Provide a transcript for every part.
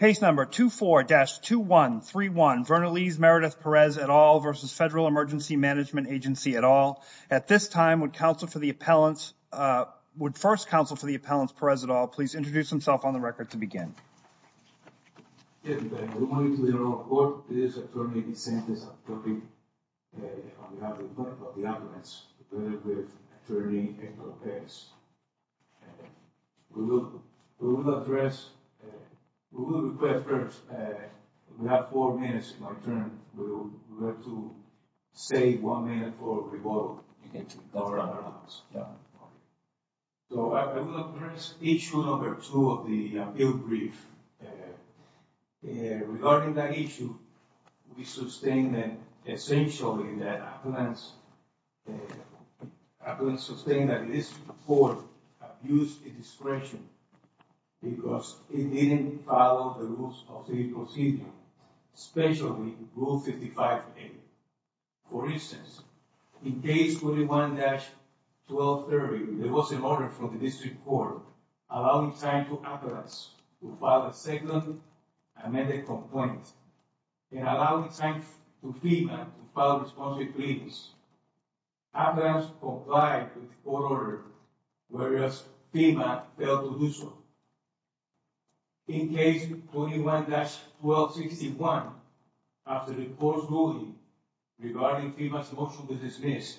Case number 24-2131, Vernaliz Meredith Perez et al. v. Federal Emergency Management Agency et al. At this time, would first counsel for the appellant Perez et al. please introduce himself on the record to begin. Good morning to you all. This is attorney Vicente Santopoli on behalf of the appellants, together with attorney Angel Perez. We will address... We will request first... We have four minutes in my turn. We would like to save one minute for rebuttal. You can go around the house. So, I will address issue number two of the appeal brief. Regarding that issue, we sustain that essentially that appellants... Appellants sustain that this court abused the discretion because it didn't follow the rules of the procedure, especially Rule 55A. For instance, in case 21-1230, there was an order from the district court allowing time for appellants to file a second amended complaint and allowing time for FEMA to file a response brief. Appellants complied with the court order, whereas FEMA failed to do so. In case 21-1261, after the court's ruling regarding FEMA's motion to dismiss,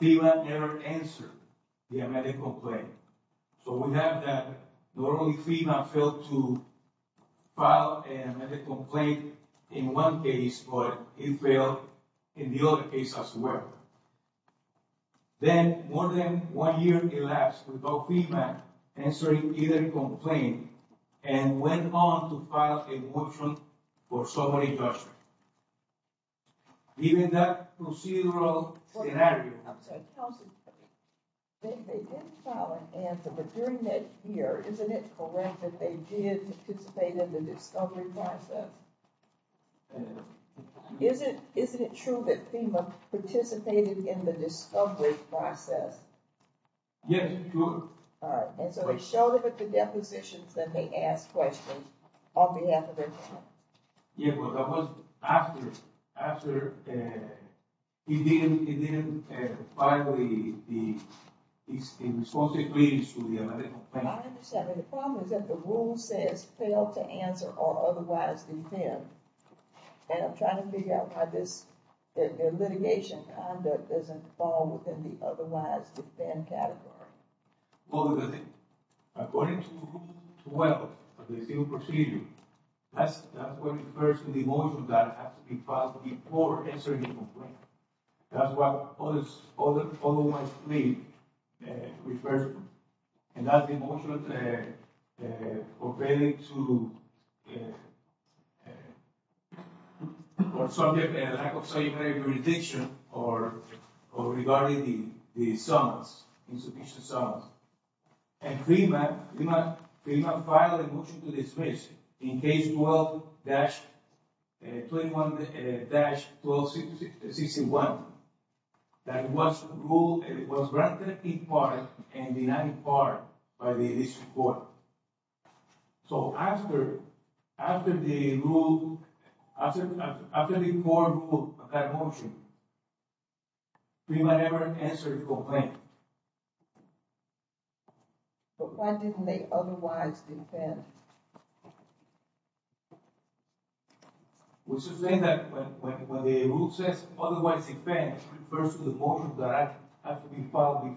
FEMA never answered the amended complaint. So, we have that normally FEMA failed to file an amended complaint in one case, but it failed in the other case as well. Then, more than one year elapsed without FEMA answering either complaint and went on to file a motion for summary judgment. Given that procedural scenario... They did file an answer, but during that year, isn't it correct that they did participate in the discovery process? Isn't it true that FEMA participated in the discovery process? Yes, it's true. Alright, and so they showed up at the depositions and they asked questions on behalf of their client. Yeah, but that was after he didn't file a response brief to the amended complaint. I understand, but the problem is that the rule says fail to answer or otherwise defend. And I'm trying to figure out why this litigation conduct doesn't fall within the otherwise defend category. Well, according to Rule 12 of the FEMA procedure, that's what refers to the motion that has to be filed before answering a complaint. That's what all of my brief refers to. And that's the motion for failing to... Or subject to a lack of statutory jurisdiction or regarding the summons, insufficient summons. And FEMA filed a motion to dismiss in Case 12-1261 that was granted in part and denied in part by the District Court. So after the rule, after the court ruled that motion, FEMA never answered the complaint. But why didn't they otherwise defend? We're saying that when the rule says otherwise defend, it refers to the motion that has to be filed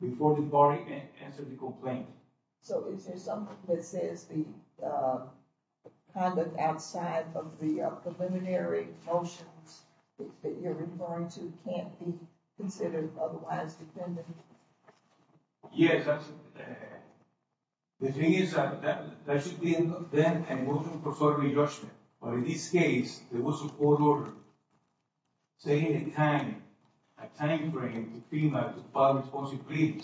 before the party answered the complaint. So is there something that says the conduct outside of the preliminary motions that you're referring to can't be considered otherwise defended? Yes, that's... The thing is that there should be then a motion for formal judgment. But in this case, there was a court order saying in time, a time frame, for FEMA to file a responsive brief.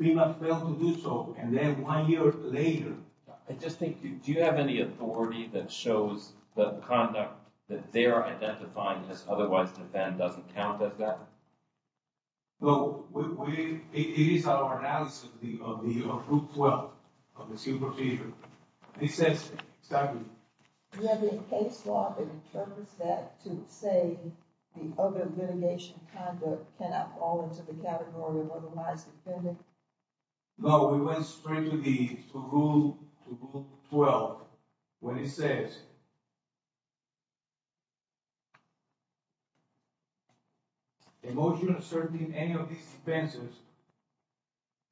FEMA failed to do so, and then one year later... I just think, do you have any authority that shows that the conduct that they're identifying as otherwise defend doesn't count as that? No, it is our analysis of the Rule 12 of the Supervision. It says exactly... Do you have any case law that interprets that to say the other litigation conduct cannot fall into the category of otherwise defended? No, we went straight to the Rule 12 when it says... A motion asserting any of these offenses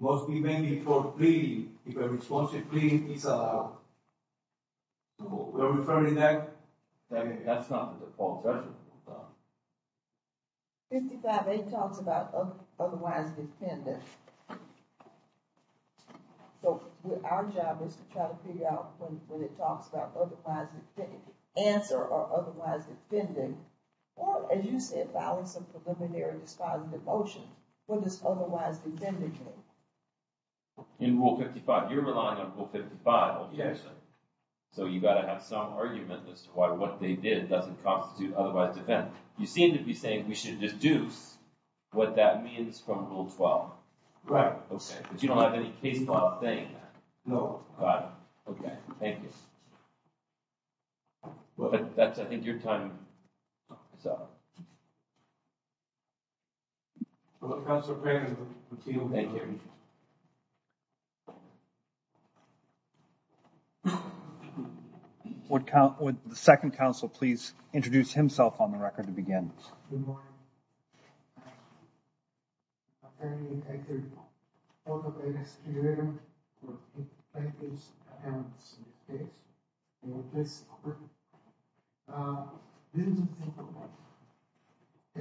must be made before a plea, if a responsive plea is allowed. We're referring to that. That's not the default judgment. 55A talks about otherwise defended. So, our job is to try to figure out when it talks about otherwise defended. Answer or otherwise defended. Or, as you said, violence of preliminary dispositive motion. What does otherwise defended mean? In Rule 55, you're relying on Rule 55. Yes. So, you've got to have some argument as to why what they did doesn't constitute otherwise defended. You seem to be saying we should deduce what that means from Rule 12. Right. Okay, but you don't have any case law saying that. No. Got it. Okay, thank you. Well, that's, I think, your time. Well, Counselor Perry, we're with you. Thank you. Would the second Counsel please introduce himself on the record to begin? Good morning. My name is Andrew. I'm the biggest contributor for the plaintiffs' defense case. And with this court, this is a simple one.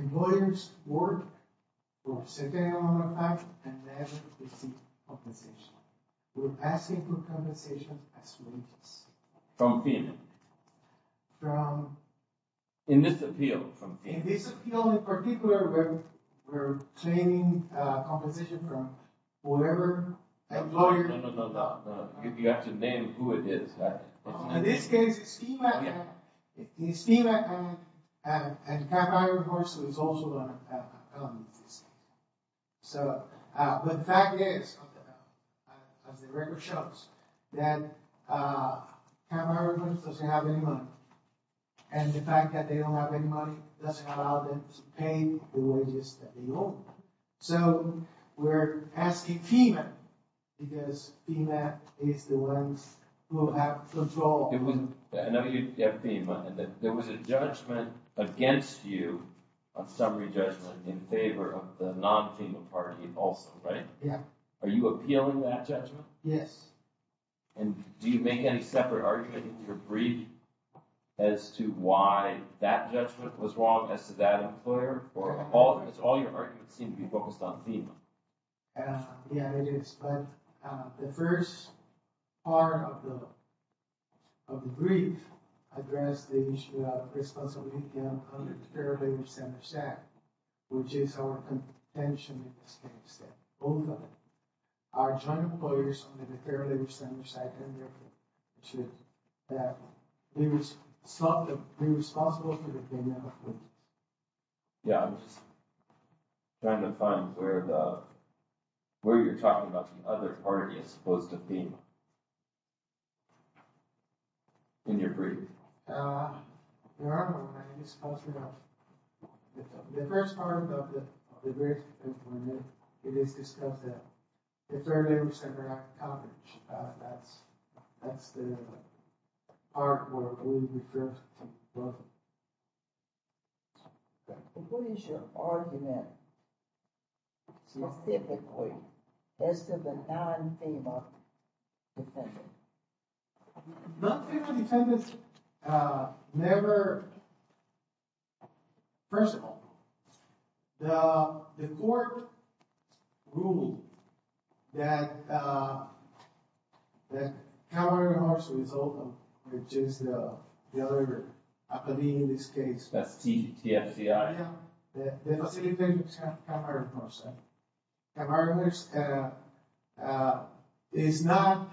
Employers work for a certain amount of time and never receive compensation. We're asking for compensation as plaintiffs. From whom? From... In this appeal, from whom? In this appeal in particular, we're claiming compensation from whoever employed... No, no, no, no, no. You have to name who it is. In this case, it's FEMA. It's FEMA. And Camp Iroquois is also on this. So, but the fact is, as the record shows, that Camp Iroquois doesn't have any money. And the fact that they don't have any money doesn't allow them to pay the wages that they owe. So, we're asking FEMA, because FEMA is the ones who have control. I know you have FEMA. And there was a judgment against you, a summary judgment, in favor of the non-FEMA party also, right? Yeah. Are you appealing that judgment? Yes. And do you make any separate argument in your brief as to why that judgment was wrong as to that employer? Because all your arguments seem to be focused on FEMA. Yeah, it is. But the first part of the brief addressed the issue of responsibility of the Fair Labor Centers Act, which is our contention in this case that both of our joint employers under the Fair Labor Centers Act should be responsible for the payment of wages. Yeah, I'm just trying to find where you're talking about the other party is supposed to be in your brief. There are more than I can disclose right now. The first part of the brief is discussed at the Fair Labor Centers Act conference. That's the part where we refer to both. What is your argument specifically as to the non-FEMA defendant? Non-FEMA defendants never – first of all, the court ruled that camaraderie and harmony is open, which is the other opinion in this case. That's TFCI. The non-FEMA defendant is a camaraderie person. Camaraderie is not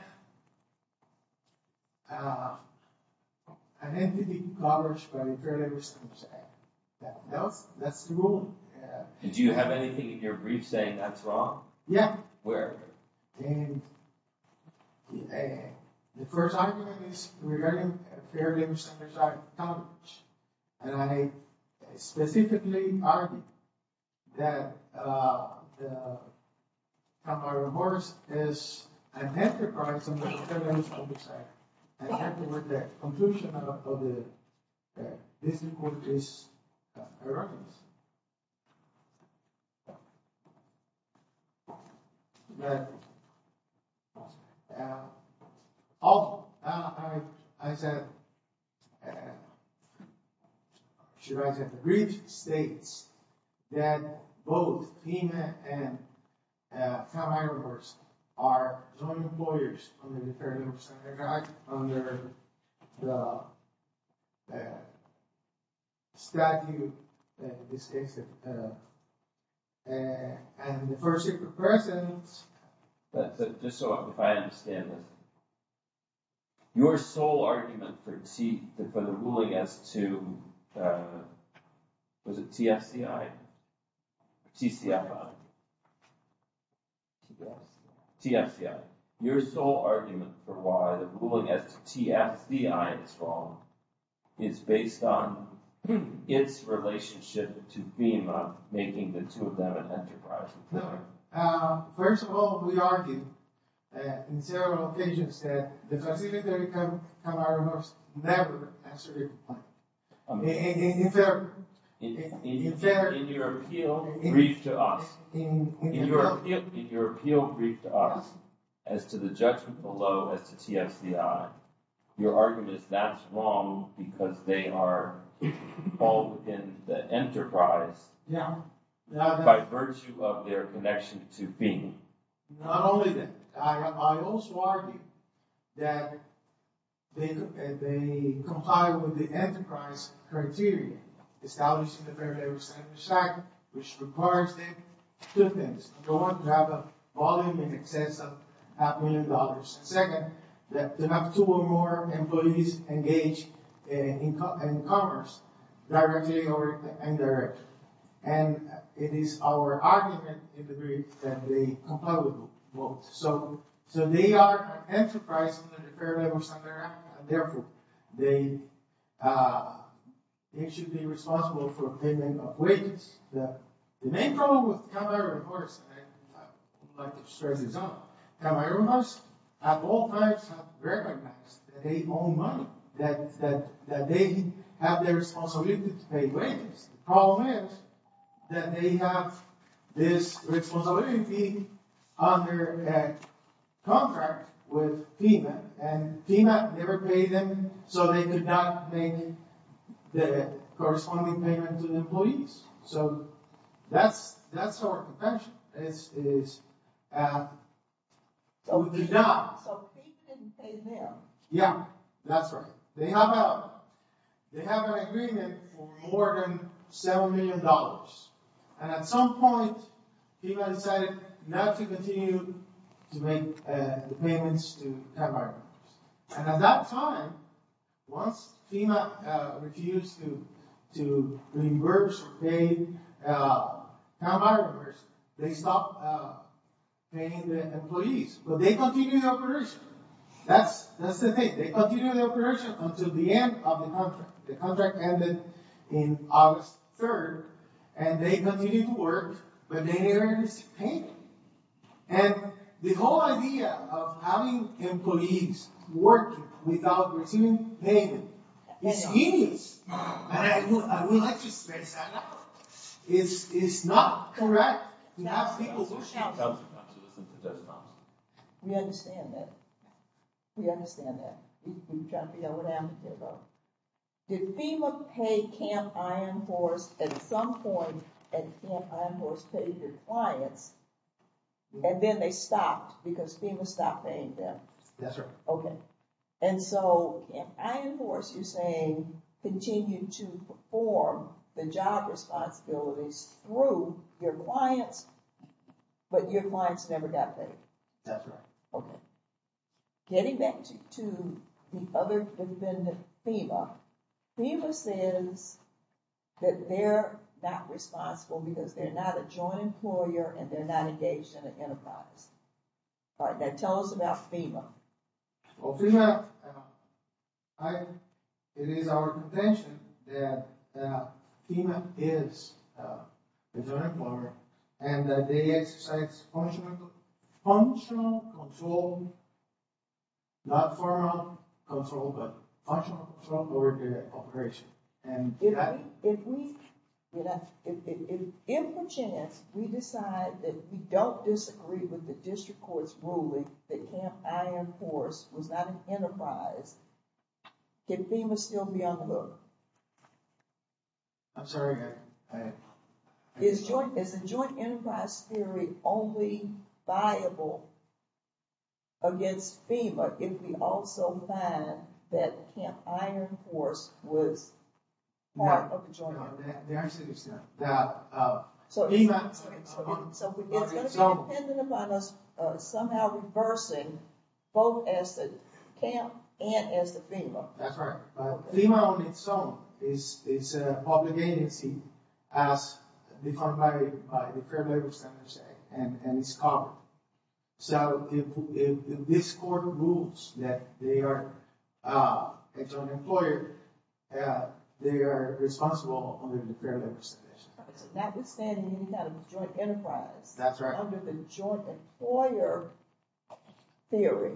an entity covered by the Fair Labor Centers Act. That's the rule. Did you have anything in your brief saying that's wrong? Yeah. Where? And the first argument is regarding Fair Labor Centers Act coverage. And I specifically argue that camaraderie is an enterprise under the Fair Labor Centers Act. The conclusion of this report is irrefutable. The brief states that both FEMA and camaraderie workers are joint employers under the Fair Labor Centers Act, under the statute, in this case, of adversity for persons. Just so I understand this, your sole argument for the ruling as to – was it TFCI? TCI. TFCI. TFCI. Your sole argument for why the ruling as to TFCI is wrong is based on its relationship to FEMA, making the two of them an enterprise employer. First of all, we argue in several occasions that the specific camaraderies never exerted influence. In your appeal brief to us. In your appeal brief to us as to the judgment below as to TFCI, your argument is that's wrong because they are all in the enterprise by virtue of their connection to FEMA. Not only that, I also argue that they comply with the enterprise criteria established in the Fair Labor Centers Act, which requires them to have a volume in excess of half a million dollars. And second, that they have two or more employees engaged in commerce, directly or indirectly. And it is our argument in the brief that they comply with both. So they are an enterprise under the Fair Labor Centers Act, and therefore they should be responsible for payment of wages. The main problem with camaraderies, and I would like to stress this out, camaraderies of all types have recognized that they own money, that they have the responsibility to pay wages. The problem is that they have this responsibility under a contract with FEMA. And FEMA never paid them, so they could not make the corresponding payment to the employees. So that's our contention. This is a job. So FEMA didn't pay them. Yeah, that's right. They have an agreement for more than $7 million. And at some point, FEMA decided not to continue to make the payments to camaraderies. And at that time, once FEMA refused to reimburse or pay camaraderies, they stopped paying the employees. But they continued the operation. That's the thing. They continued the operation until the end of the contract. The contract ended on August 3rd, and they continued to work, but they never received payment. And the whole idea of having employees work without receiving payment is hideous. And I would like to stress that out. It's not correct to have people who shout. It does not. We understand that. We understand that. We try to be open-ended here, though. Did FEMA pay Camp Iron Horse at some point, and Camp Iron Horse paid your clients, and then they stopped because FEMA stopped paying them? Yes, sir. Okay. And so Camp Iron Horse, you're saying, continued to perform the job responsibilities through your clients, but your clients never got paid? That's right. Okay. Getting back to the other defendant, FEMA, FEMA says that they're not responsible because they're not a joint employer and they're not engaged in an enterprise. All right, now tell us about FEMA. Well, FEMA, it is our contention that FEMA is a joint employer and that they exercise functional control, not firm control, but functional control over their operation. If we, if we, if we decide that we don't disagree with the district court's ruling that Camp Iron Horse was not an enterprise, can FEMA still be on the book? I'm sorry? Is joint, is the joint enterprise theory only viable against FEMA if we also find that Camp Iron Horse was part of the joint? No, no, no. So it's going to be dependent upon us somehow reversing both as the camp and as the FEMA. That's right. FEMA on its own is a public agency as defined by the Fair Labor Standards Act and it's covered. So if this court rules that they are a joint employer, they are responsible under the Fair Labor Standards Act. Notwithstanding any kind of joint enterprise. That's right. Under the joint employer theory,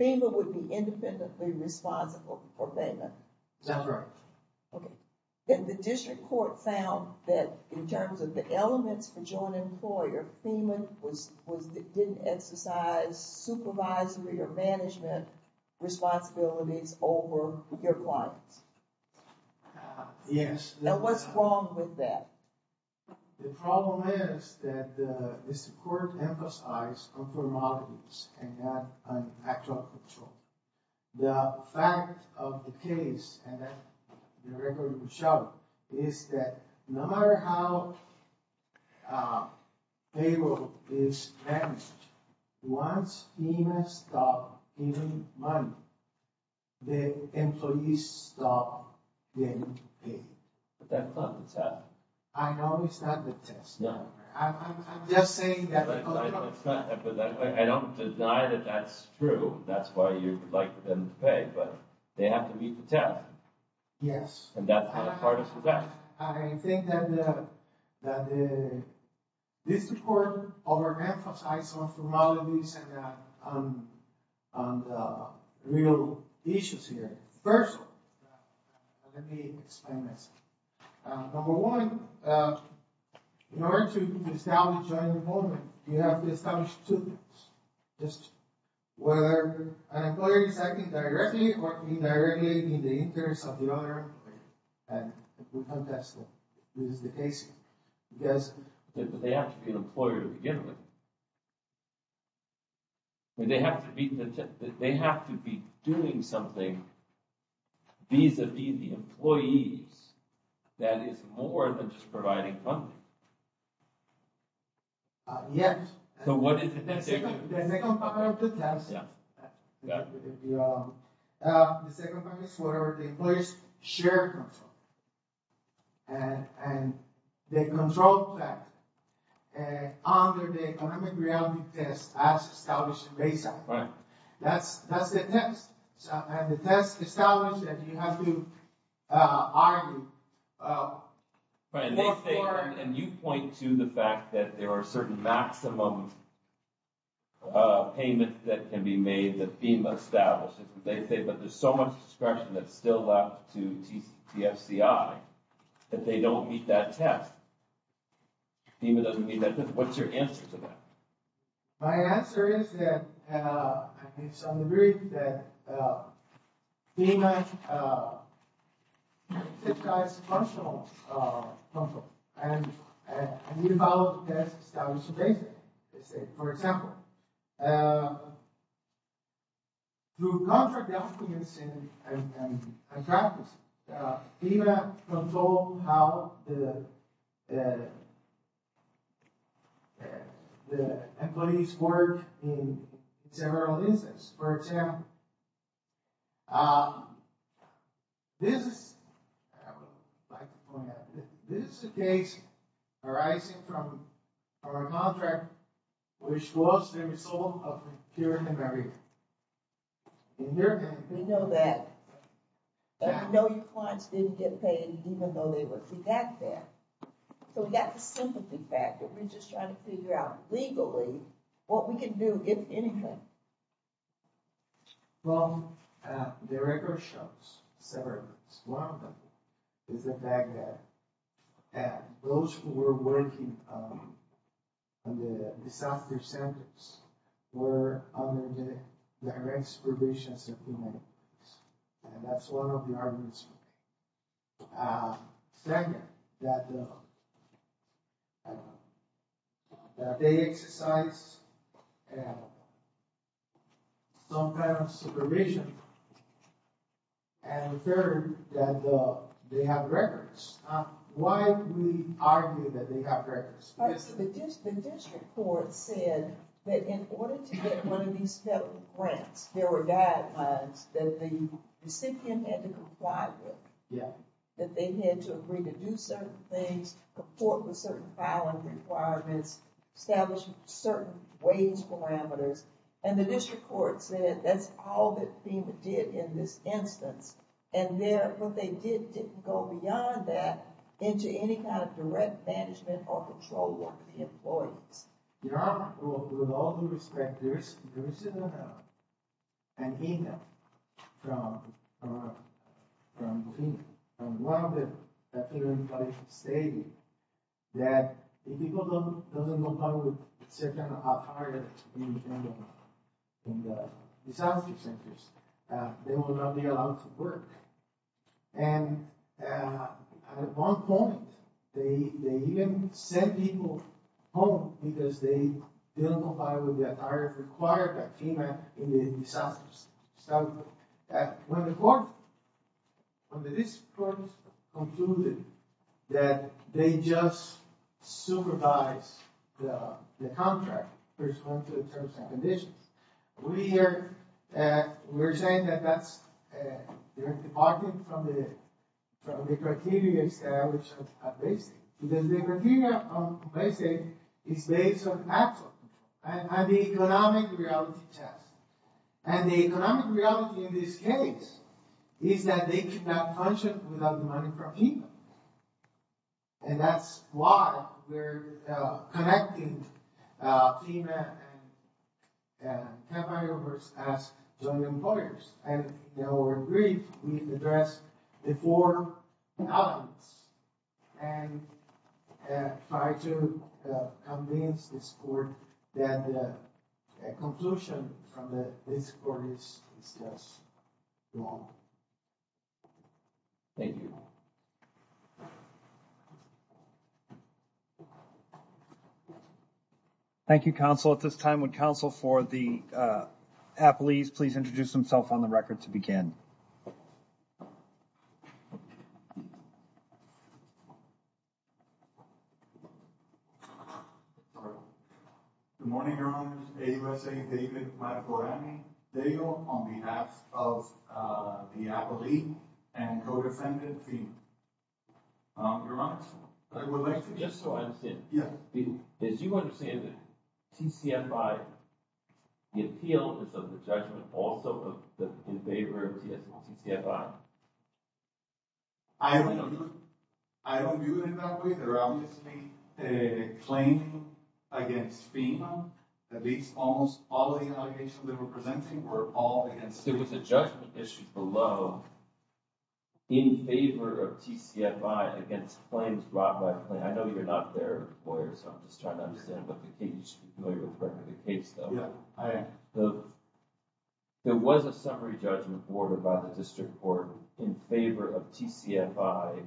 FEMA would be independently responsible for payment. That's right. Okay. Then the district court found that in terms of the elements for joint employer, FEMA was, was, didn't exercise supervisory or management responsibilities over your clients. Yes. Now what's wrong with that? The problem is that the district court emphasized conformalities and not an actual control. The fact of the case and the record will show is that no matter how payable is managed, once FEMA stops giving money, the employees stop getting paid. But that's not the test. I know it's not the test. No. I'm just saying that. I know it's not, but I don't deny that that's true. That's why you would like them to pay, but they have to meet the test. Yes. And that's not a part of the test. I think that the district court overemphasized conformalities and real issues here. First, let me explain this. Number one, in order to establish joint employment, you have to establish two things. Just whether an employer is acting directly or indirectly in the interest of the other. And we contested. This is the case. Because they have to be an employer to begin with. They have to be doing something vis-a-vis the employees. That is more than just providing funding. Yes. So what is the second part of the test? The second part is where the employees share control. And they control that. Under the economic reality test as established in BESA. Right. That's the test. And the test establishes that you have to argue. Right. And you point to the fact that there are certain maximum payments that can be made that FEMA establishes. They say, but there's so much discretion that's still left to the FCI that they don't meet that test. FEMA doesn't meet that test. What's your answer to that? My answer is that it's on the brief that FEMA satisfies functional control. And we follow the test established in BESA. For example, through contract documents and practice, FEMA controls how the employees work in several instances. For example, this is a case arising from a contract which was the result of a hearing in America. We know that. We know your clients didn't get paid even though they were exacted. So we got the sympathy factor. We're just trying to figure out legally what we can do, if anything. Well, the record shows several things. One of them is the fact that those who were working in the disaster centers were under the direct supervision of FEMA. And that's one of the arguments. Second, that they exercise some kind of supervision. And third, that they have records. Why do we argue that they have records? The district court said that in order to get one of these federal grants, there were guidelines that the recipient had to comply with. That they had to agree to do certain things, comport with certain filing requirements, establish certain wage parameters. And the district court said that's all that FEMA did in this instance. And what they did didn't go beyond that into any kind of direct management or control work for the employees. Your Honor, with all due respect, there is an email from FEMA. One of the federal employees stated that if people don't comply with certain requirements in the disaster centers, they will not be allowed to work. And at one point, they even sent people home because they didn't comply with the requirements that FEMA in the disaster center. When the court, when the district court concluded that they just supervised the contract, we're saying that that's departing from the criteria established at Baystate. Because the criteria on Baystate is based on actual, on the economic reality test. And the economic reality in this case is that they cannot function without the money from FEMA. And that's why we're connecting FEMA and temporary workers as joint employers. And in our brief, we address the four elements and try to convince the court that the conclusion from the district court is just wrong. Thank you. Thank you, counsel. At this time, would counsel for the appellees please introduce themselves on the record to begin? Good morning, Your Honor. AUSA David Marborani Deyo on behalf of the appellee and co-defendant FEMA. Your Honor, I would like to- Just so I understand. Yeah. As you understand it, TCFI, the appeal is of the judgment also in favor of TCFI. I don't view it that way. They're obviously claiming against FEMA. At least almost all of the allegations they were presenting were all against FEMA. There was a judgment issued below in favor of TCFI against claims brought by FEMA. I know you're not their lawyer, so I'm just trying to understand what the case- I know you're a friend of the case, though. Yeah, I am. There was a summary judgment ordered by the district court in favor of TCFI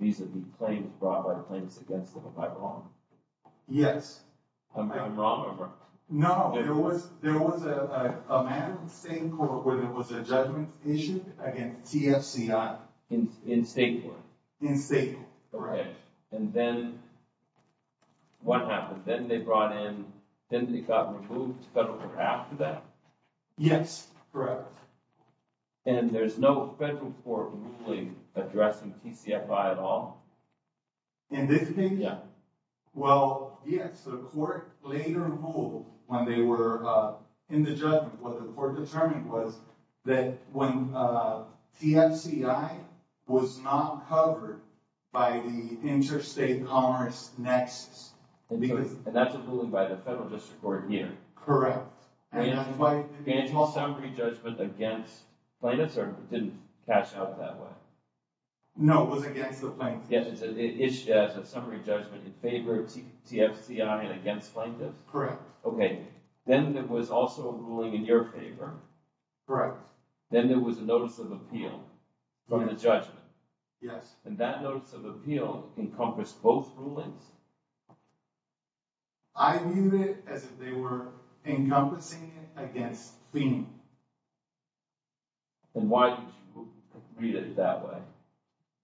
vis-a-vis claims brought by claims against them, am I wrong? Yes. Am I wrong? No, there was a matter in the same court where there was a judgment issued against TFCI. In state court? In state court, correct. And then what happened? Then they brought in- then they got removed federal court after that? Yes, correct. And there's no federal court really addressing TCFI at all? In this case? Yeah. Well, yes, the court later ruled when they were in the judgment, what the court determined was that when TFCI was not covered by the interstate commerce nexus- And that's a ruling by the federal district court here. Correct. And that's why- And it's all summary judgment against plaintiffs, or it didn't catch up that way? No, it was against the plaintiffs. It's a summary judgment in favor of TFCI and against plaintiffs? Okay. Then there was also a ruling in your favor? Then there was a notice of appeal from the judgment? Yes. And that notice of appeal encompassed both rulings? I read it as if they were encompassing it against theme. Then why did you read it that way?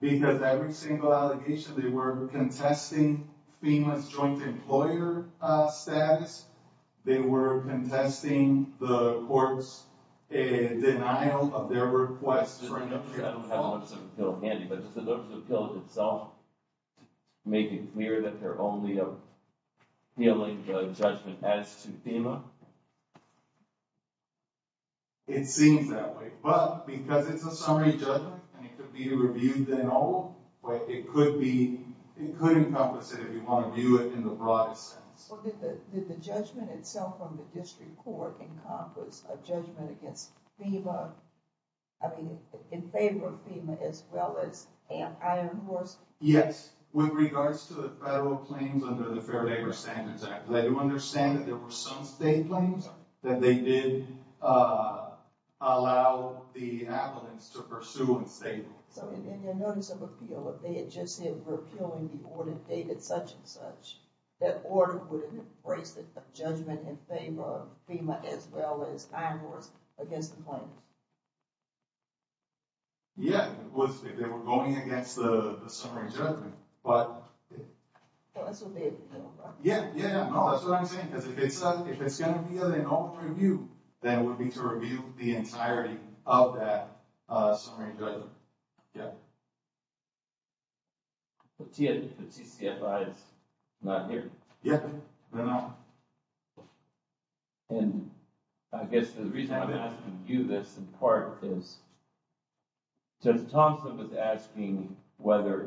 Because every single allegation they were contesting FEMA's joint employer status. They were contesting the court's denial of their request for an appeal. I don't have a notice of appeal handy, but just the notice of appeal itself made it clear that they're only appealing the judgment as to FEMA? It seems that way. But, because it's a summary judgment, and it could be reviewed then and all, but it could encompass it if you want to view it in the broadest sense. Well, did the judgment itself from the district court encompass a judgment against FEMA? I mean, in favor of FEMA as well as Ant Iron Horse? Yes. With regards to the federal claims under the Fair Labor Standards Act, I do understand that there were some state claims that they did allow the applicants to pursue in state. So, in their notice of appeal, if they had just said we're appealing the order dated such and such, that order would have embraced a judgment in favor of FEMA as well as Iron Horse against the claim? Yeah. They were going against the summary judgment. That's what they appealed, right? Yeah. No, that's what I'm saying. Because if it's going to be an open review, then it would be to review the entirety of that summary judgment. Yeah. The TCFI is not here. Yeah. They're not. And I guess the reason I'm asking you this, in part, is Judge Thompson was asking whether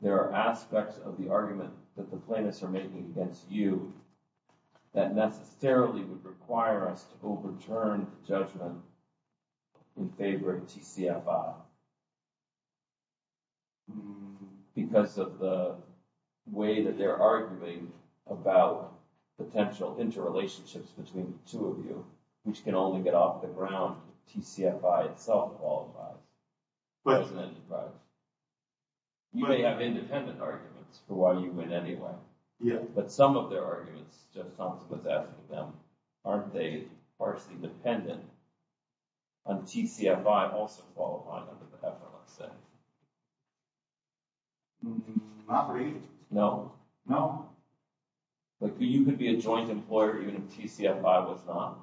there are aspects of the argument that the plaintiffs are making against you that necessarily would require us to overturn the judgment in favor of TCFI because of the way that they're arguing about potential interrelationships between the two of you, which can only get off the ground if TCFI itself qualifies as an enterprise. Right. You may have independent arguments for why you win anyway. Yeah. But some of their arguments, Judge Thompson was asking them, aren't they partially dependent on TCFI also qualifying under the FMLSA? Not really. No? No. But you could be a joint employer even if TCFI was not?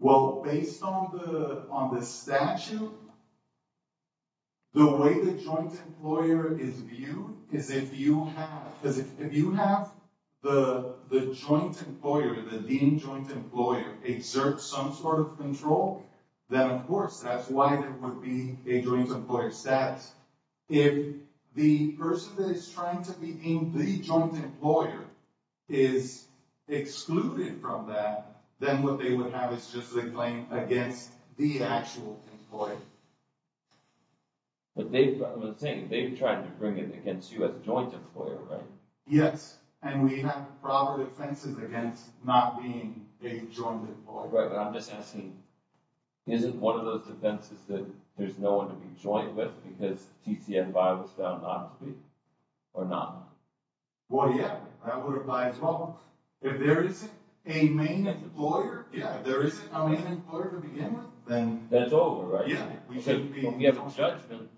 Well, based on the statute, the way the joint employer is viewed is if you have the joint employer, the leading joint employer, exert some sort of control, then, of course, that's why there would be a joint employer status. If the person that is trying to be in the joint employer is excluded from that, then what they would have is just a claim against the actual employer. But they've, I was saying, they've tried to bring it against you as a joint employer, right? Yes. And we have proper defenses against not being a joint employer. Right. But I'm just asking, isn't one of those defenses that there's no one to be joint with because TCFI was found not to be? Or not? Well, yeah. That would apply as well. If there isn't a main employer, if there isn't a main employer to begin with, then... Then it's over, right? Yeah. We have a judgment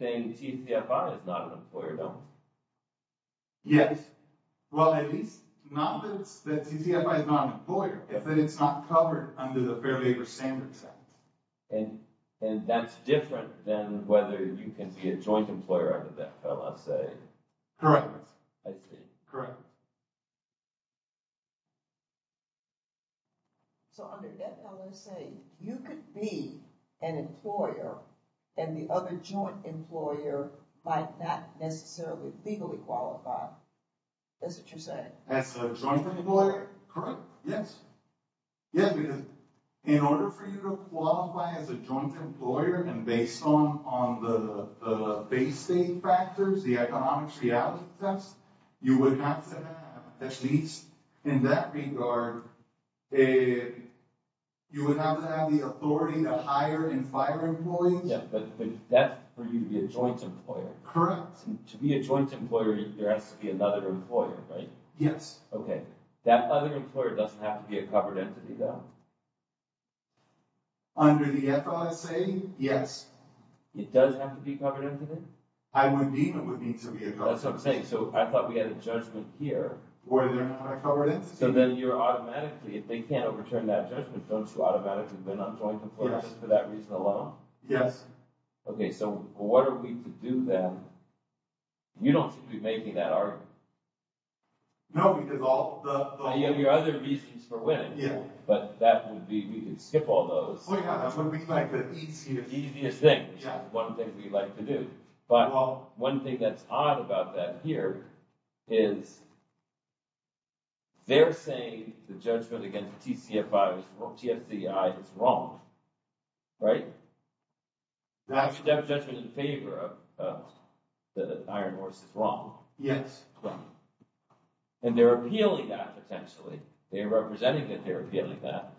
saying TCFI is not an employer, don't we? Yes. Well, at least not that TCFI is not an employer, but that it's not covered under the Fair Labor Standards Act. And that's different than whether you can be a joint employer under that LSA. Correct. I see. Correct. Correct. So under that LSA, you could be an employer, and the other joint employer might not necessarily legally qualify. Is that what you're saying? As a joint employer? Correct. Yes? Yeah, because in order for you to qualify as a joint employer, and based on the base state factors, the economic reality test, you would have to have, at least in that regard, you would have to have the authority to hire and fire employees. Yeah, but that's for you to be a joint employer. Correct. To be a joint employer, there has to be another employer, right? Yes. Okay. That other employer doesn't have to be a covered entity, though? Under the FISA, yes. It does have to be a covered entity? I would deem it would need to be a covered entity. That's what I'm saying. So I thought we had a judgment here. Where they're not a covered entity. So then you're automatically, if they can't overturn that judgment, don't you automatically win on joint employers just for that reason alone? Yes. Okay, so what are we to do then? You don't seem to be making that argument. No, because all the- You have your other reasons for winning. But that would be, we can skip all those. Oh, yeah, that's what we like, the easiest thing. The easiest thing, which is one thing we like to do. But one thing that's odd about that here is they're saying the judgment against TCFI or TFCI is wrong, right? They have a judgment in favor of that an iron horse is wrong. Yes. And they're appealing that, potentially. They're representing it, they're appealing that.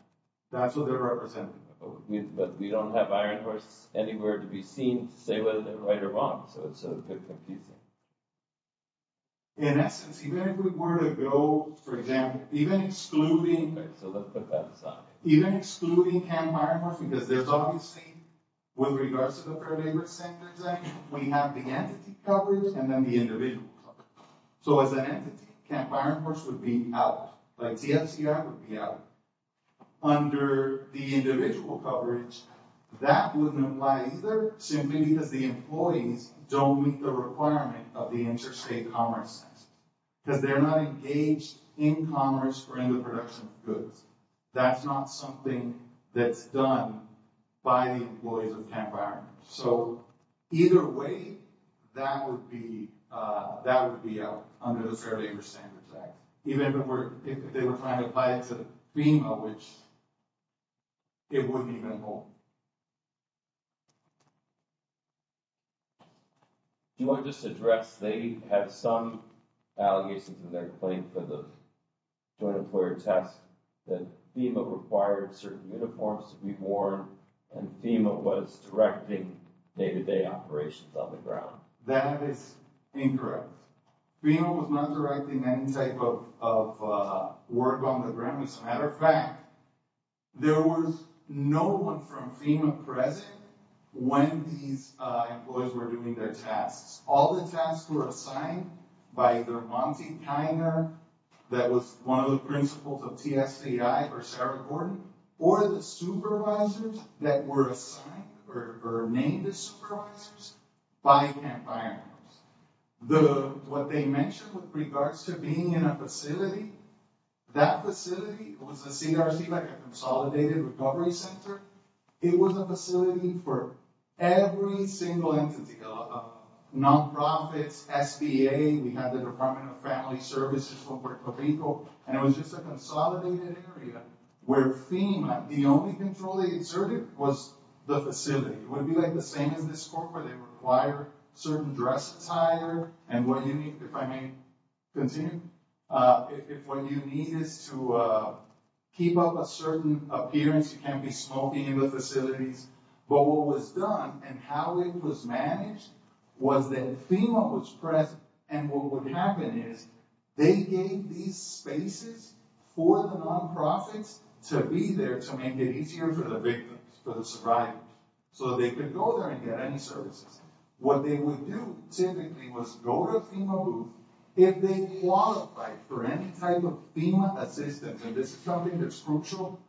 That's what they're representing. But we don't have iron horse anywhere to be seen to say whether they're right or wrong. So it's a bit confusing. In essence, even if we were to go, for example, even excluding- Okay, so let's put that aside. Even excluding camp iron horse, because there's obviously, with regards to the preliminary sentencing, we have the entity coverage and then the individual coverage. So as an entity, camp iron horse would be out. Like TFCI would be out. Under the individual coverage, that wouldn't apply either, simply because the employees don't meet the requirement of the interstate commerce sentence. Because they're not engaged in commerce or in the production of goods. That's not something that's done by the employees of camp iron horse. So either way, that would be out under the Fair Labor Standards Act. Even if they were trying to apply it to FEMA, which it wouldn't even hold. Do you want to just address, they had some allegations in their claim for the joint employer test that FEMA required certain uniforms to be worn and FEMA was directing day-to-day operations on the ground. That is incorrect. FEMA was not directing any type of work on the ground. As a matter of fact, there was no one from FEMA present when these employees were doing their tasks. All the tasks were assigned by either Monty Kiner, that was one of the principals of TFCI, or Sarah Gordon, or the supervisors that were assigned or named as supervisors by camp iron horse. What they mentioned with regards to being in a facility, that facility was a CRC, like a Consolidated Recovery Center. It was a facility for every single entity, nonprofits, SBA, we had the Department of Family Services from Puerto Rico, and it was just a consolidated area where FEMA, the only control they exerted was the facility. It would be like the same as this court where they require certain dress attire, and what you need, if I may continue, if what you need is to keep up a certain appearance, you can't be smoking in the facilities, but what was done and how it was managed was that FEMA was present, and what would happen is they gave these spaces for the nonprofits to be there to make it easier for the victims, for the survivors, so they could go there and get any services. What they would do, typically, was go to a FEMA booth. If they qualified for any type of FEMA assistance, and this is something that's crucial,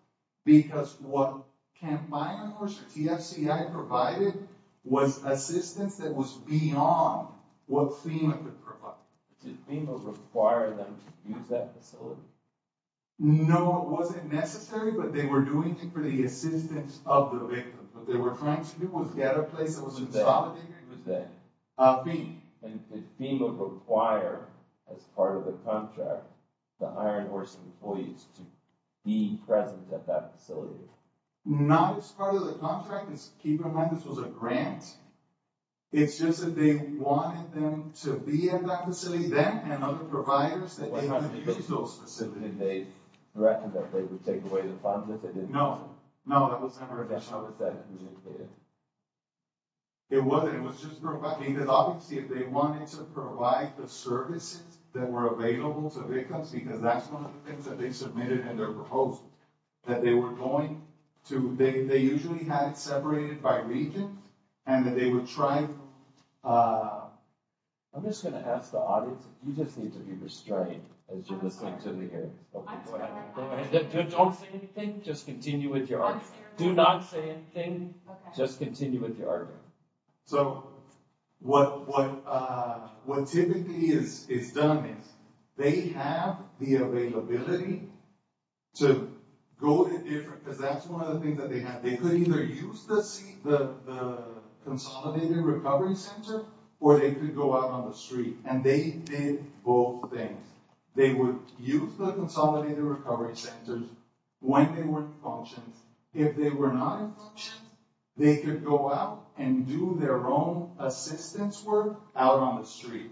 because what camp iron horse or TFCI provided was assistance that was beyond what FEMA could provide. Did FEMA require them to use that facility? No, it wasn't necessary, but they were doing it for the assistance of the victim. What they were trying to do was get a place that was insolidated and was there. And did FEMA require, as part of the contract, the iron horse employees to be present at that facility? Not as part of the contract. Keep in mind, this was a grant. It's just that they wanted them to be at that facility then, and other providers that didn't use those facilities. Did they recommend that they would take away the funds if they didn't use them? No, that was never mentioned. How was that communicated? It wasn't. It was just provided. Obviously, if they wanted to provide the services that were available to victims, because that's one of the things that they submitted in their proposal, that they were going to. They usually had it separated by region, and that they would try. I'm just going to ask the audience. You just need to be restrained as you're listening to me here. I'm scared. Don't say anything. Just continue with your argument. I'm scared. Do not say anything. Just continue with your argument. So what typically is done is they have the availability to go in different, because that's one of the things that they have. They could either use the consolidated recovery center, or they could go out on the street. And they did both things. They would use the consolidated recovery centers when they were in function. If they were not in function, they could go out and do their own assistance work out on the street.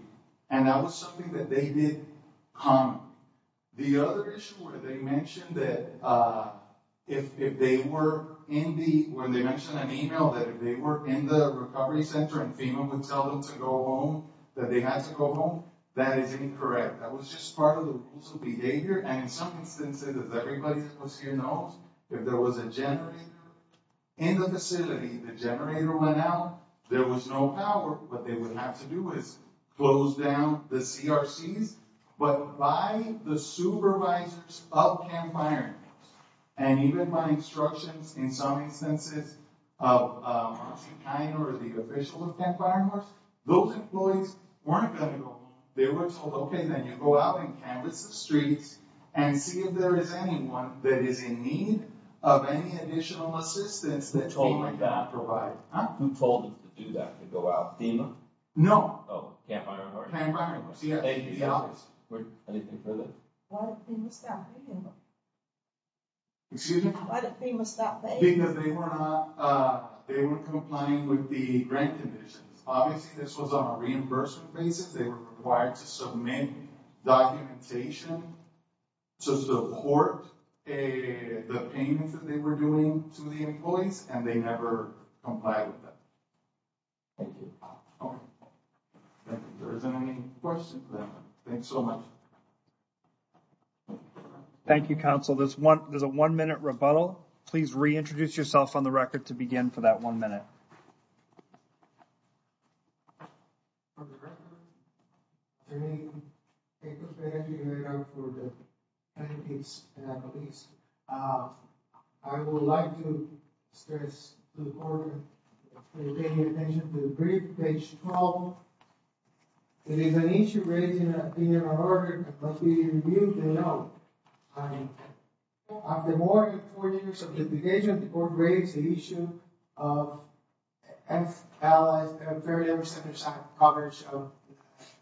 And that was something that they did commonly. The other issue where they mentioned that if they were in the, where they mentioned an email that if they were in the recovery center and FEMA would tell them to go home, that they had to go home, that is incorrect. That was just part of the rules of behavior. And in some instances, as everybody that was here knows, if there was a generator in the facility, the generator went out, there was no power. What they would have to do is close down the CRCs. But by the supervisors of Camp Iron Horse, and even by instructions in some instances of Marcy Kiner, the official of Camp Iron Horse, those employees weren't going to go home. They were told, okay, then you go out and canvass the streets and see if there is anyone that is in need of any additional assistance that FEMA can provide. Who told them to do that, to go out? FEMA? No. Oh, Camp Iron Horse? Camp Iron Horse, yeah. Anything further? Why did FEMA stop paying them? Excuse me? Why did FEMA stop paying them? Because they were not, they were complying with the grant conditions. Obviously, this was on a reimbursement basis. They were required to submit documentation to the court, the payments that they were doing to the employees, and they never complied with that. Thank you. Okay. If there isn't any questions, then thanks so much. Thank you, Counsel. This is a one-minute rebuttal. Counsel, please reintroduce yourself on the record to begin for that one minute. On the record, my name is April Perez, and I work for the Penitentiary Police. I would like to stress to the Court and pay attention to the brief, page 12. It is an issue raised in the opinion of the Court, but we reviewed the note. After more than four years of litigation, the Court raised the issue of F.L.A.'s Fair Labor Center's coverage of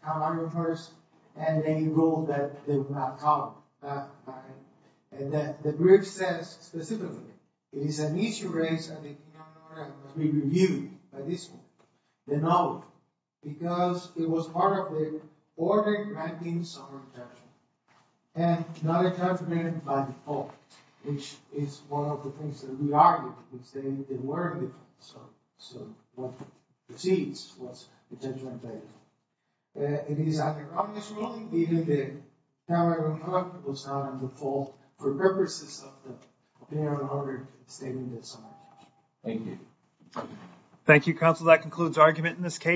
Calvary First and any rule that they would not follow. And the brief says, specifically, it is an issue raised in the opinion of the Court, and it must be reviewed by this Court, the note, because it was part of the order granting summary judgment. And not a confirmation by default, which is one of the things that we argued, which they didn't worry about. So, what precedes what's the judgment date? It is under obvious ruling, even if Calvary First was not on default for purposes of the opinion of the order stating this summary. Thank you. Thank you, Counsel. That concludes argument in this case.